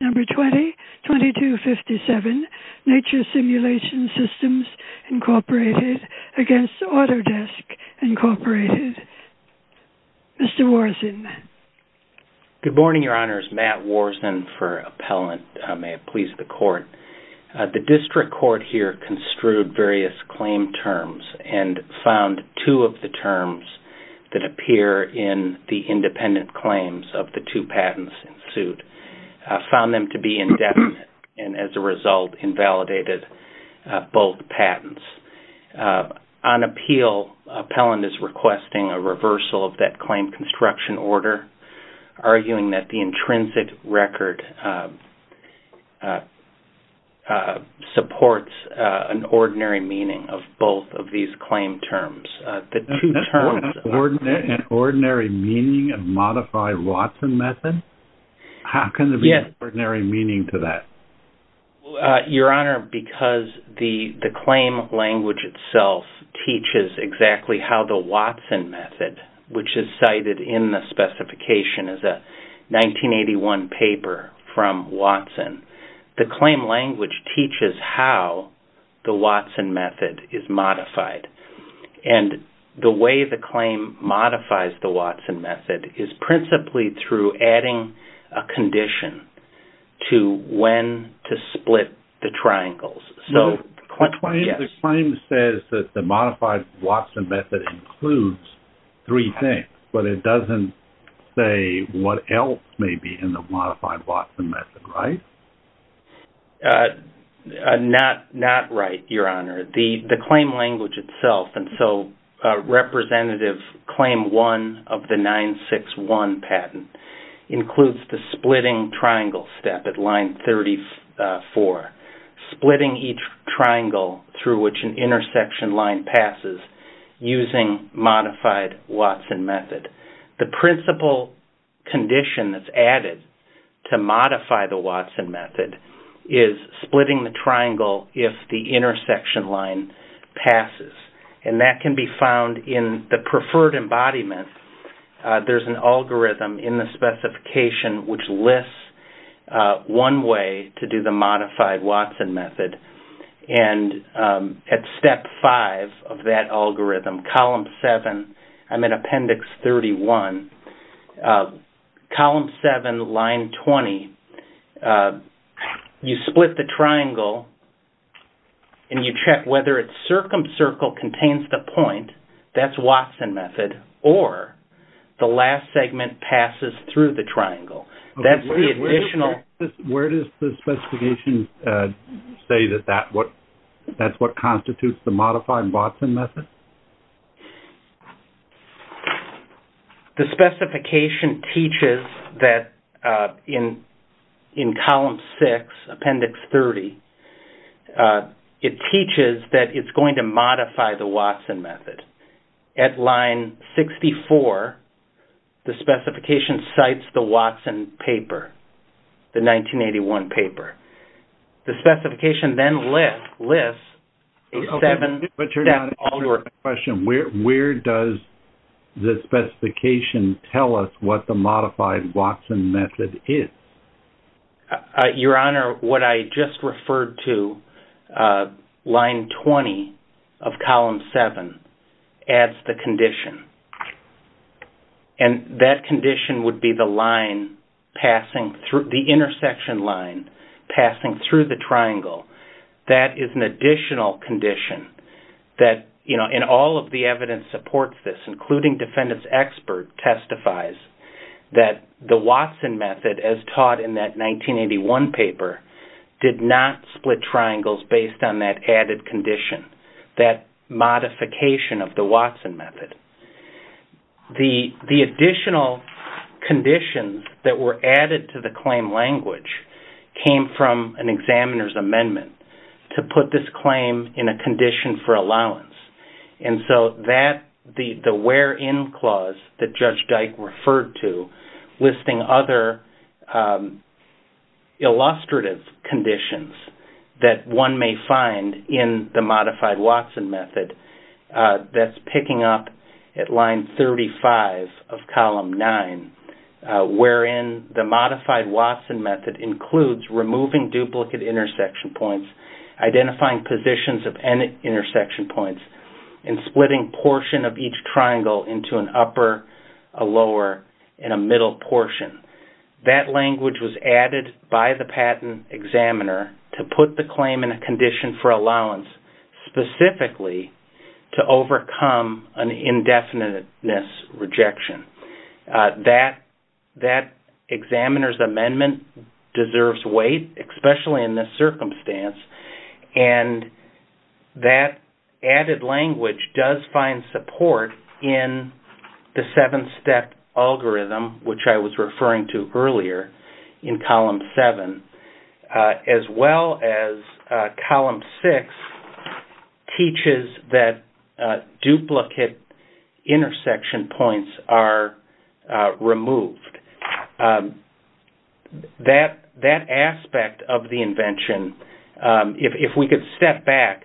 Number 20-2257, Nature Simulation Systems, Inc. v. Autodesk, Inc. Mr. Warson. Good morning, Your Honors. Matt Warson for Appellant. May it please the Court. The District Court here construed various claim terms and found two of the terms that appear in the independent claims of the two patents in suit. Found them to be indefinite, and as a result, invalidated both patents. On appeal, Appellant is requesting a reversal of that claim construction order, arguing that the intrinsic record supports an ordinary meaning of both of these claim terms. An ordinary meaning of modified Watson method? How can there be an ordinary meaning to that? Your Honor, because the claim language itself teaches exactly how the Watson method, which is cited in the specification as a 1981 paper from Watson, the claim language teaches how the Watson method is modified. And the way the claim modifies the Watson method is principally through adding a condition to when to split the triangles. The claim says that the modified Watson method includes three things, but it doesn't say what else may be in the modified Watson method, right? Not right, Your Honor. The claim language itself, and so Representative Claim 1 of the 961 patent, includes the splitting triangle step at line 34. Splitting each triangle through which an intersection line passes using modified Watson method. The principal condition that's added to modify the Watson method is splitting the triangle if the intersection line passes. And that can be found in the preferred embodiment. There's an algorithm in the specification which lists one way to do the modified Watson method. And at step 5 of that algorithm, column 7, I'm in appendix 31, column 7, line 20, you split the triangle and you check whether its circumcircle contains the point, that's Watson method, or the last segment passes through the triangle. Where does the specification say that that's what constitutes the modified Watson method? The specification teaches that in column 6, appendix 30, it teaches that it's going to modify the Watson method. At line 64, the specification cites the Watson paper, the 1981 paper. The specification then lists a seven step algorithm. But Your Honor, I have a question. Where does the specification tell us what the modified Watson method is? Your Honor, what I just referred to, line 20 of column 7, adds the condition. And that condition would be the line passing through, the intersection line passing through the triangle. That is an additional condition. And all of the evidence supports this, including defendant's expert testifies that the Watson method, as taught in that 1981 paper, did not split triangles based on that added condition, that modification of the Watson method. The additional conditions that were added to the claim language came from an examiner's amendment to put this claim in a condition for allowance. And so that, the where in clause that Judge Dyke referred to, listing other illustrative conditions that one may find in the modified Watson method, that's picking up at line 35 of column 9, wherein the modified Watson method includes removing duplicate intersection points, identifying positions of intersection points, and splitting portion of each triangle into an upper, a lower, and a middle portion. That language was added by the patent examiner to put the claim in a condition for allowance, specifically to overcome an indefiniteness rejection. That examiner's amendment deserves weight, especially in this circumstance, and that added language does find support in the seven-step algorithm, which I was referring to earlier in column 7, as well as column 6 teaches that duplicate intersection points are removed. That aspect of the invention, if we could step back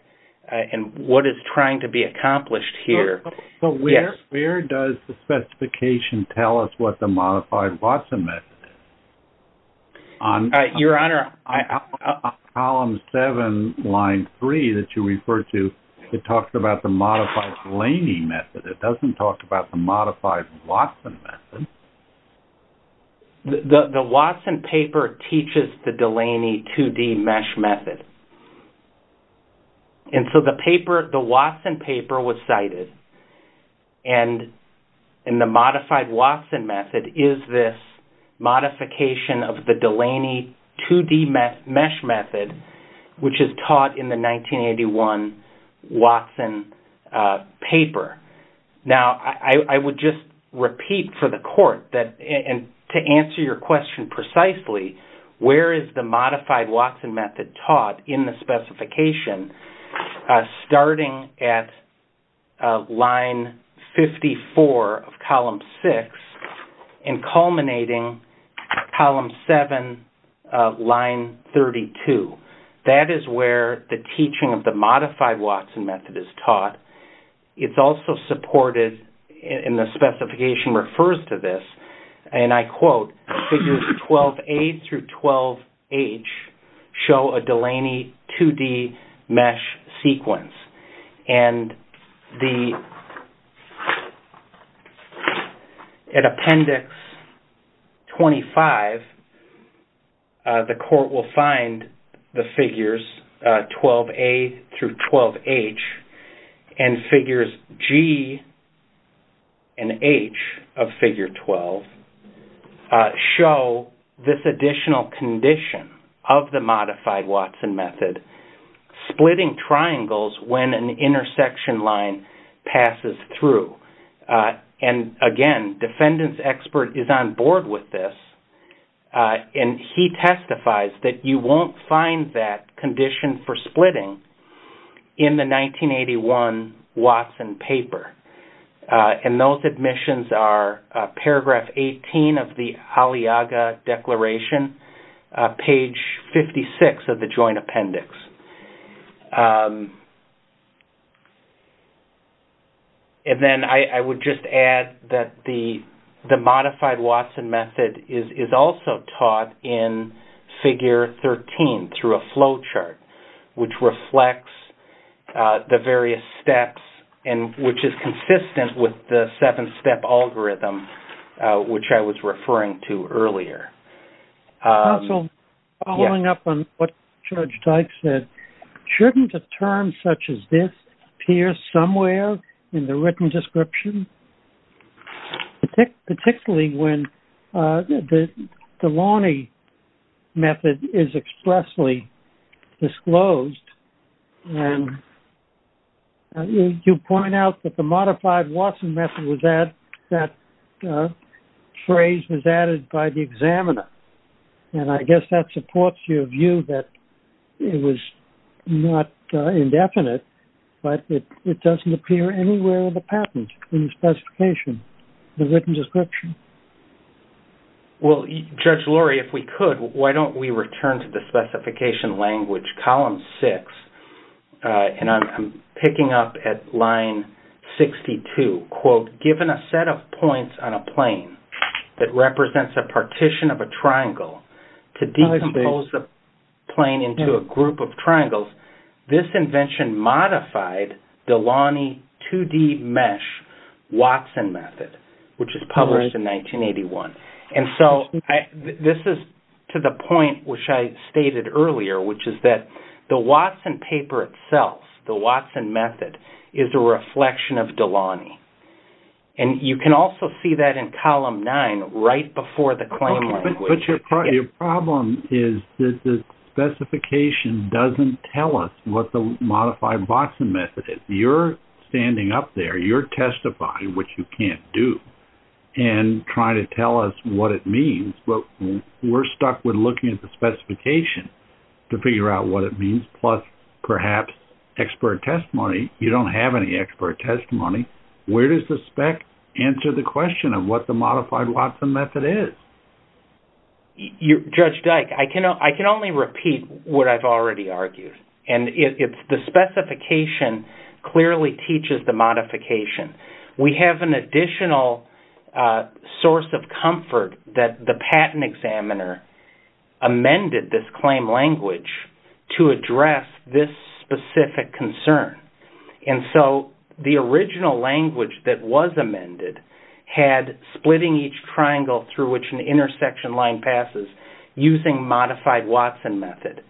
in what is trying to be accomplished here. So where does the specification tell us what the modified Watson method is? Your Honor- On column 7, line 3 that you referred to, it talks about the modified Delaney method. It doesn't talk about the modified Watson method. The Watson paper teaches the Delaney 2D mesh method, and so the Watson paper was cited, and the modified Watson method is this modification of the Delaney 2D mesh method, which is taught in the 1981 Watson paper. Now, I would just repeat for the Court, and to answer your question precisely, where is the modified Watson method taught in the specification, starting at line 54 of column 6 and culminating column 7 of line 32? That is where the teaching of the modified Watson method is taught. It's also supported, and the specification refers to this, and I quote, Figures 12A through 12H show a Delaney 2D mesh sequence, and at Appendix 25, the Court will find the figures 12A through 12H, and figures G and H of figure 12 show this additional condition of the modified Watson method, splitting triangles when an intersection line passes through. Again, defendant's expert is on board with this, and he testifies that you won't find that condition for splitting in the 1981 Watson paper, and those admissions are paragraph 18 of the Aliaga Declaration, page 56 of the Joint Appendix. I would just add that the modified Watson method is also taught in Figure 13 through a flowchart, which reflects the various steps and which is consistent with the seven-step algorithm, which I was referring to earlier. Also, following up on what Judge Dykes said, shouldn't a term such as this appear somewhere in the written description, particularly when the Delaney method is expressly disclosed? You point out that the modified Watson method, that phrase was added by the examiner, and I guess that supports your view that it was not indefinite, but it doesn't appear anywhere in the patent, in the specification, in the written description. Well, Judge Lurie, if we could, why don't we return to the specification language, column six, and I'm picking up at line 62. Given a set of points on a plane that represents a partition of a triangle to decompose the plane into a group of triangles, this invention modified Delaney 2D mesh Watson method, which was published in 1981. This is to the point which I stated earlier, which is that the Watson paper itself, the Watson method, is a reflection of Delaney. You can also see that in column nine, right before the claim language. But your problem is that the specification doesn't tell us what the modified Watson method is. You're standing up there. You're testifying, which you can't do, and trying to tell us what it means, but we're stuck with looking at the specification to figure out what it means, plus perhaps expert testimony. You don't have any expert testimony. Where does the spec answer the question of what the modified Watson method is? Judge Dyke, I can only repeat what I've already argued, and it's the specification clearly teaches the modification. We have an additional source of comfort that the patent examiner amended this claim language to address this specific concern. The original language that was amended had splitting each triangle through which an intersection line passes using modified Watson method,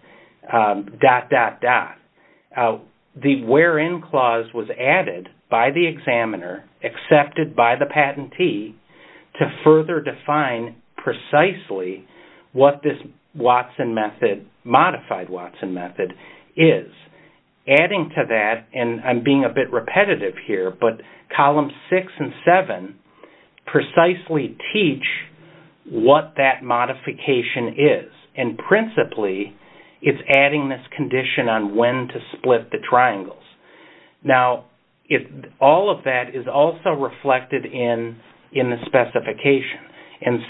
dot, dot, dot. The where in clause was added by the examiner, accepted by the patentee, to further define precisely what this modified Watson method is. Adding to that, and I'm being a bit repetitive here, but columns six and seven precisely teach what that modification is, and principally, it's adding this condition on when to split the triangles. Now, all of that is also reflected in the specification.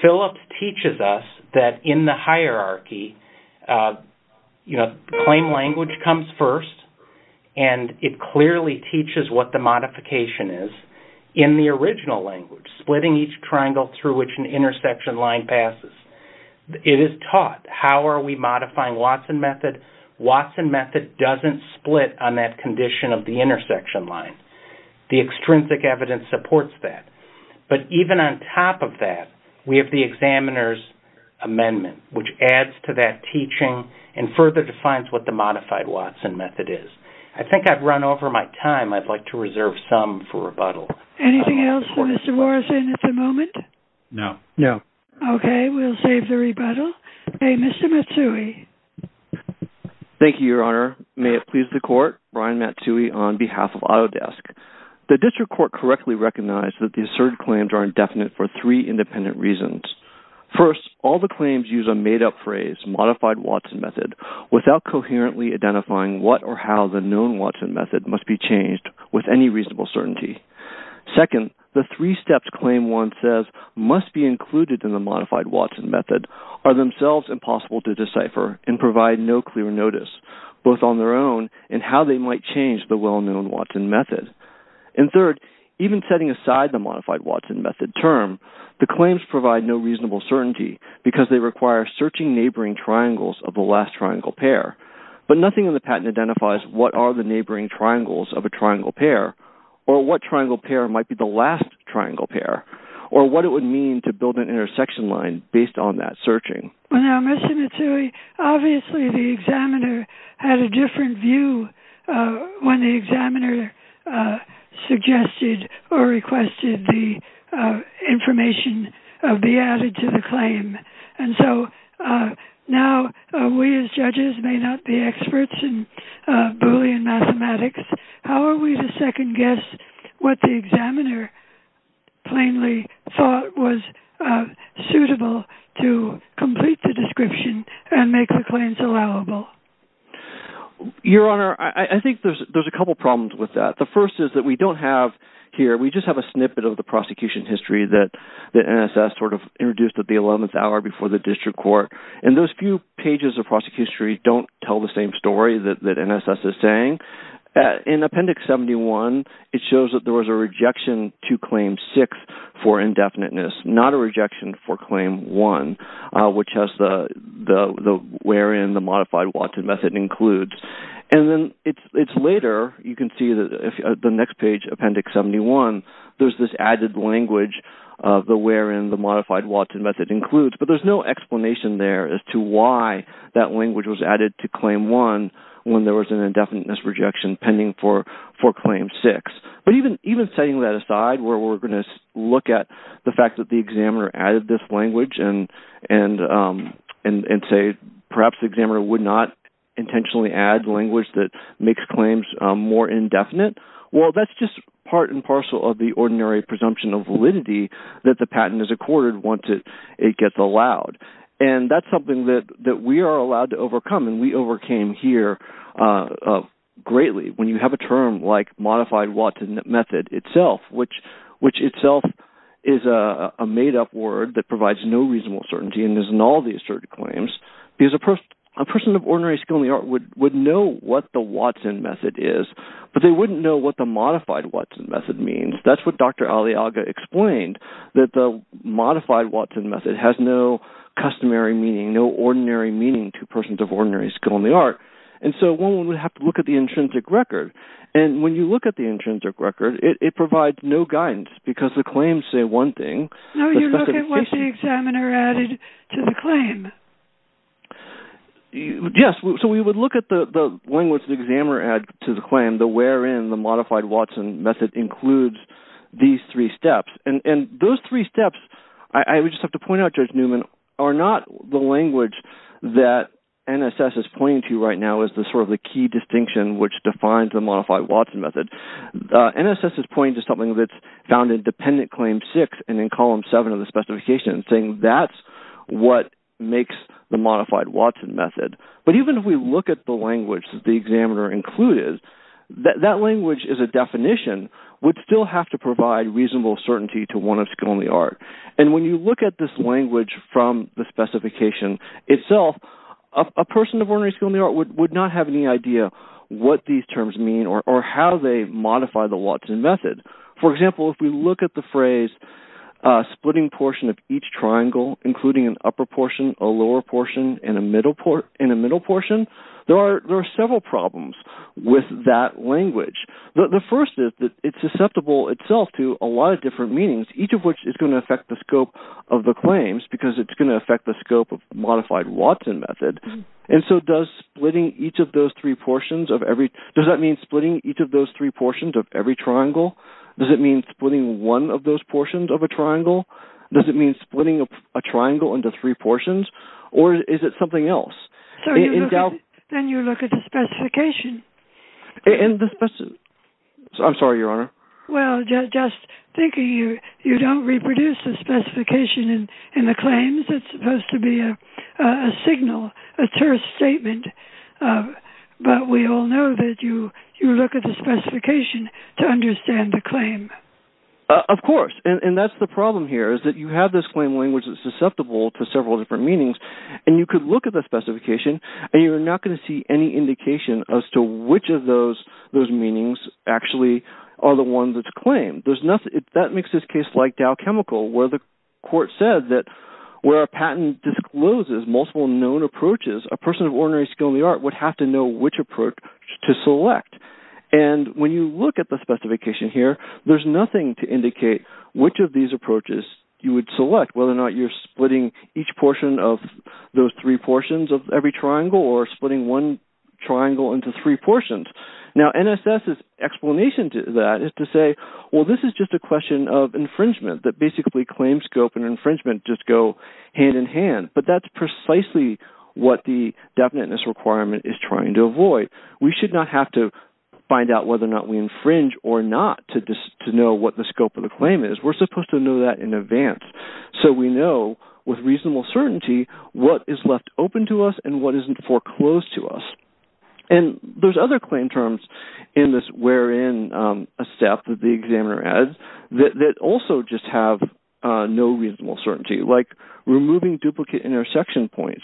Phillips teaches us that in the hierarchy, claim language comes first, and it clearly teaches what the modification is in the original language, splitting each triangle through which an intersection line passes. It is taught how are we modifying Watson method. Watson method doesn't split on that condition of the intersection line. The extrinsic evidence supports that. But even on top of that, we have the examiner's amendment, which adds to that teaching and further defines what the modified Watson method is. I think I've run over my time. I'd like to reserve some for rebuttal. Anything else for Mr. Morrison at the moment? No. No. Okay, we'll save the rebuttal. Okay, Mr. Matsui. Thank you, Your Honor. May it please the Court, Brian Matsui on behalf of Autodesk. The district court correctly recognized that the asserted claims are indefinite for three independent reasons. First, all the claims use a made-up phrase, modified Watson method, without coherently identifying what or how the known Watson method must be changed with any reasonable certainty. Second, the three steps claim one says must be included in the modified Watson method are themselves impossible to decipher and provide no clear notice, both on their own and how they might change the well-known Watson method. And third, even setting aside the modified Watson method term, the claims provide no reasonable certainty because they require searching neighboring triangles of the last triangle pair. But nothing in the patent identifies what are the neighboring triangles of a triangle pair or what triangle pair might be the last triangle pair or what it would mean to build an intersection line based on that searching. Now, Mr. Matsui, obviously the examiner had a different view when the examiner suggested or requested the information be added to the claim. And so now we as judges may not be experts in Boolean mathematics. How are we to second-guess what the examiner plainly thought was suitable to complete the description and make the claims allowable? Your Honor, I think there's a couple problems with that. The first is that we don't have here, we just have a snippet of the prosecution history that NSS sort of introduced at the 11th hour before the district court. And those few pages of prosecution history don't tell the same story that NSS is saying. In Appendix 71, it shows that there was a rejection to Claim 6 for indefiniteness, not a rejection for Claim 1, which has the wherein the modified Watson method includes. And then it's later, you can see the next page, Appendix 71, there's this added language of the wherein the modified Watson method includes, but there's no explanation there as to why that language was added to Claim 1 when there was an indefiniteness rejection pending for Claim 6. But even setting that aside where we're going to look at the fact that the examiner added this language and say perhaps the examiner would not intentionally add language that makes claims more indefinite, well, that's just part and parcel of the ordinary presumption of validity that the patent is accorded once it gets allowed. And that's something that we are allowed to overcome, and we overcame here greatly when you have a term like modified Watson method itself, which itself is a made-up word that provides no reasonable certainty and isn't all these certain claims. Because a person of ordinary skill in the art would know what the Watson method is, but they wouldn't know what the modified Watson method means. That's what Dr. Aliaga explained, that the modified Watson method has no customary meaning, no ordinary meaning to persons of ordinary skill in the art. And so one would have to look at the intrinsic record, and when you look at the intrinsic record, it provides no guidance because the claims say one thing. No, you look at what the examiner added to the claim. Yes, so we would look at the language the examiner added to the claim wherein the modified Watson method includes these three steps. And those three steps, I would just have to point out, Judge Newman, are not the language that NSS is pointing to right now as sort of the key distinction which defines the modified Watson method. NSS's point is something that's found in Dependent Claim 6 and in Column 7 of the specification saying that's what makes the modified Watson method. But even if we look at the language the examiner included, that language as a definition would still have to provide reasonable certainty to one of skill in the art. And when you look at this language from the specification itself, a person of ordinary skill in the art would not have any idea what these terms mean or how they modify the Watson method. For example, if we look at the phrase splitting portion of each triangle, including an upper portion, a lower portion, and a middle portion, there are several problems with that language. The first is that it's susceptible itself to a lot of different meanings, each of which is going to affect the scope of the claims because it's going to affect the scope of the modified Watson method. And so does splitting each of those three portions of every – does that mean splitting each of those three portions of every triangle? Does it mean splitting one of those portions of a triangle? Does it mean splitting a triangle into three portions? Or is it something else? Then you look at the specification. I'm sorry, Your Honor. Well, just thinking, you don't reproduce the specification in the claims. It's supposed to be a signal, a terse statement. But we all know that you look at the specification to understand the claim. Of course. And that's the problem here is that you have this claim language that's susceptible to several different meanings. And you could look at the specification, and you're not going to see any indication as to which of those meanings actually are the ones that's claimed. That makes this case like Dow Chemical where the court said that where a patent discloses multiple known approaches, a person of ordinary skill in the art would have to know which approach to select. And when you look at the specification here, there's nothing to indicate which of these approaches you would select, whether or not you're splitting each portion of those three portions of every triangle or splitting one triangle into three portions. Now, NSS's explanation to that is to say, well, this is just a question of infringement, that basically claims scope and infringement just go hand in hand. But that's precisely what the definiteness requirement is trying to avoid. We should not have to find out whether or not we infringe or not to know what the scope of the claim is. We're supposed to know that in advance so we know with reasonable certainty what is left open to us and what isn't foreclosed to us. And there's other claim terms in this wherein a step that the examiner adds that also just have no reasonable certainty, like removing duplicate intersection points.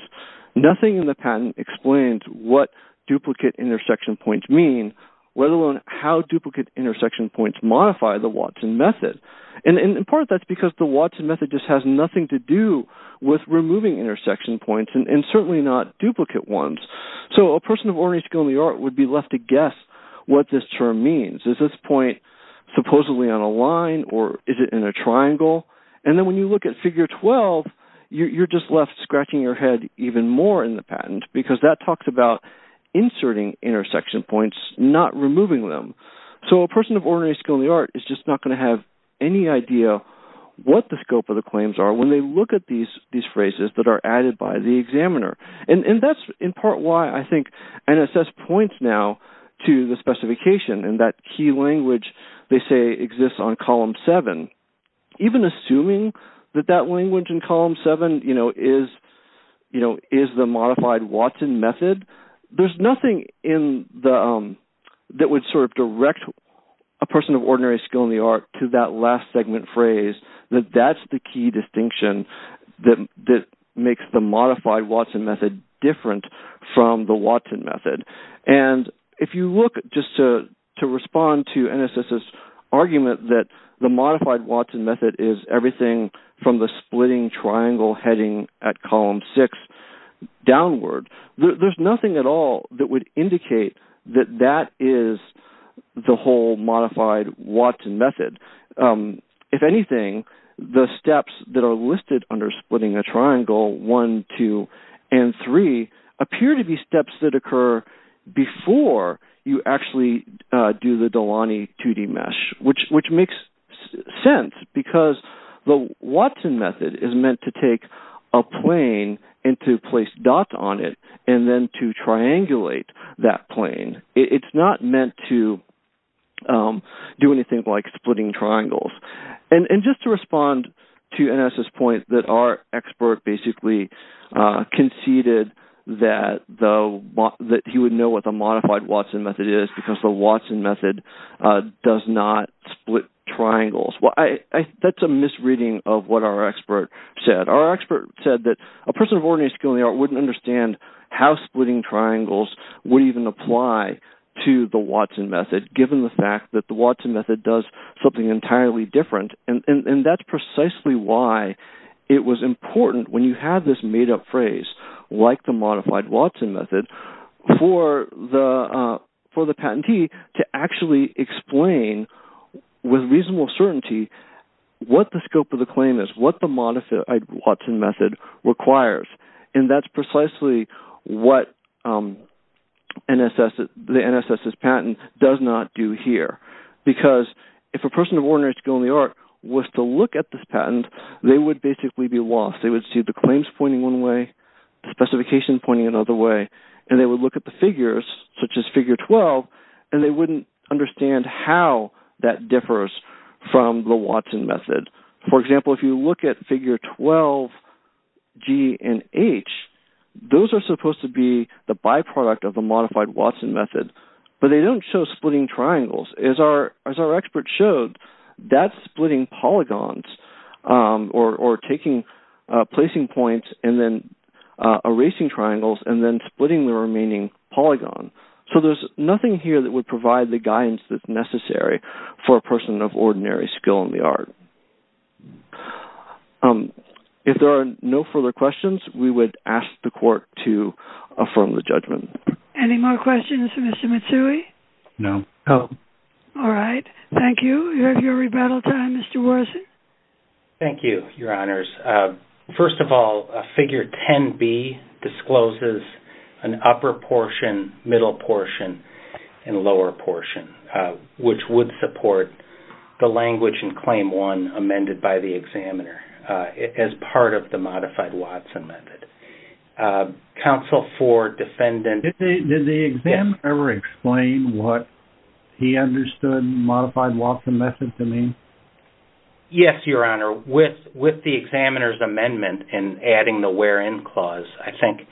Nothing in the patent explains what duplicate intersection points mean, let alone how duplicate intersection points modify the Watson method. And in part that's because the Watson method just has nothing to do with removing intersection points and certainly not duplicate ones. So a person of ordinary skill in the art would be left to guess what this term means. Is this point supposedly on a line or is it in a triangle? And then when you look at Figure 12, you're just left scratching your head even more in the patent because that talks about inserting intersection points, not removing them. So a person of ordinary skill in the art is just not going to have any idea what the scope of the claims are when they look at these phrases that are added by the examiner. And that's in part why I think NSS points now to the specification and that key language they say exists on Column 7. Even assuming that that language in Column 7 is the modified Watson method, there's nothing that would sort of direct a person of ordinary skill in the art to that last segment phrase, that that's the key distinction that makes the modified Watson method different from the Watson method. And if you look just to respond to NSS's argument that the modified Watson method is everything from the splitting triangle heading at Column 6 downward, there's nothing at all that would indicate that that is the whole modified Watson method. If anything, the steps that are listed under splitting a triangle, 1, 2, and 3, appear to be steps that occur before you actually do the Delaunay 2D mesh, which makes sense because the Watson method is meant to take a plane and to place dots on it and then to triangulate that plane. It's not meant to do anything like splitting triangles. And just to respond to NSS's point that our expert basically conceded that he would know what the modified Watson method is because the Watson method does not split triangles. That's a misreading of what our expert said. Our expert said that a person of ordinary skill in the art wouldn't understand how splitting triangles would even apply to the Watson method, given the fact that the Watson method does something entirely different. And that's precisely why it was important when you have this made-up phrase, like the modified Watson method, for the patentee to actually explain with reasonable certainty what the scope of the claim is, what the modified Watson method requires. And that's precisely what the NSS's patent does not do here. Because if a person of ordinary skill in the art was to look at this patent, they would basically be lost. They would see the claims pointing one way, the specification pointing another way, and they would look at the figures, such as figure 12, and they wouldn't understand how that differs from the Watson method. For example, if you look at figure 12G and H, those are supposed to be the byproduct of the modified Watson method, but they don't show splitting triangles. As our expert showed, that's splitting polygons or placing points and then erasing triangles and then splitting the remaining polygon. So there's nothing here that would provide the guidance that's necessary for a person of ordinary skill in the art. If there are no further questions, we would ask the court to affirm the judgment. Any more questions for Mr. Mitsui? No. All right. Thank you. You have your rebuttal time, Mr. Morrison. Thank you, Your Honors. First of all, figure 10B discloses an upper portion, middle portion, and lower portion, which would support the language in claim one amended by the examiner as part of the modified Watson method. Counsel for defendant. Did the examiner ever explain what he understood modified Watson method to mean? Yes, Your Honor. With the examiner's amendment and adding the where-in clause, I think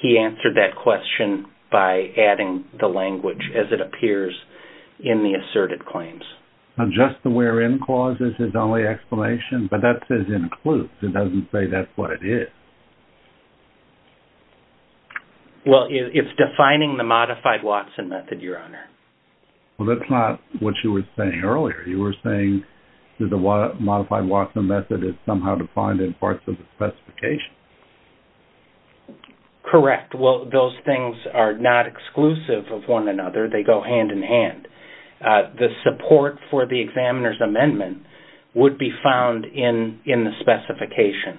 he answered that question by adding the language as it appears in the asserted claims. Just the where-in clause is his only explanation, but that says includes. It doesn't say that's what it is. Well, it's defining the modified Watson method, Your Honor. Well, that's not what you were saying earlier. You were saying that the modified Watson method is somehow defined in parts of the specification. Correct. Well, those things are not exclusive of one another. They go hand in hand. The support for the examiner's amendment would be found in the specification,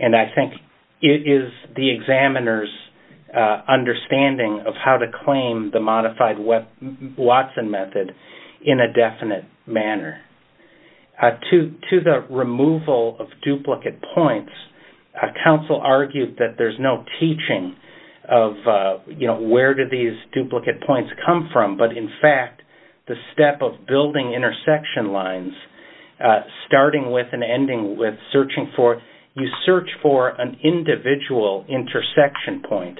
and I think it is the examiner's understanding of how to claim the modified Watson method in a definite manner. To the removal of duplicate points, counsel argued that there's no teaching of where do these duplicate points come from, but in fact the step of building intersection lines starting with and ending with searching for, you search for an individual intersection point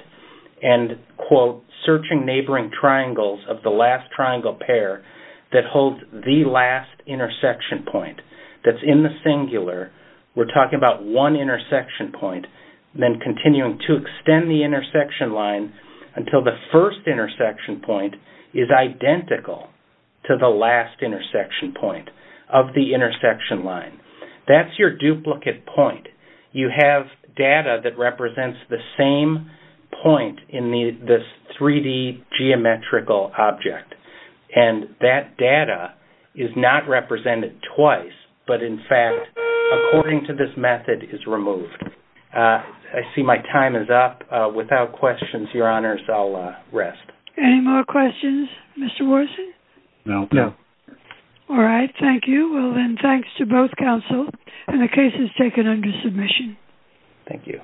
and, quote, searching neighboring triangles of the last triangle pair that holds the last intersection point that's in the singular. We're talking about one intersection point, then continuing to extend the intersection line until the first intersection point is identical to the last intersection point of the intersection line. That's your duplicate point. You have data that represents the same point in this 3D geometrical object, and that data is not represented twice, but in fact, according to this method, is removed. I see my time is up. Without questions, Your Honors, I'll rest. Any more questions, Mr. Watson? No. No. All right. Thank you. Well, then, thanks to both counsel, and the case is taken under submission. Thank you.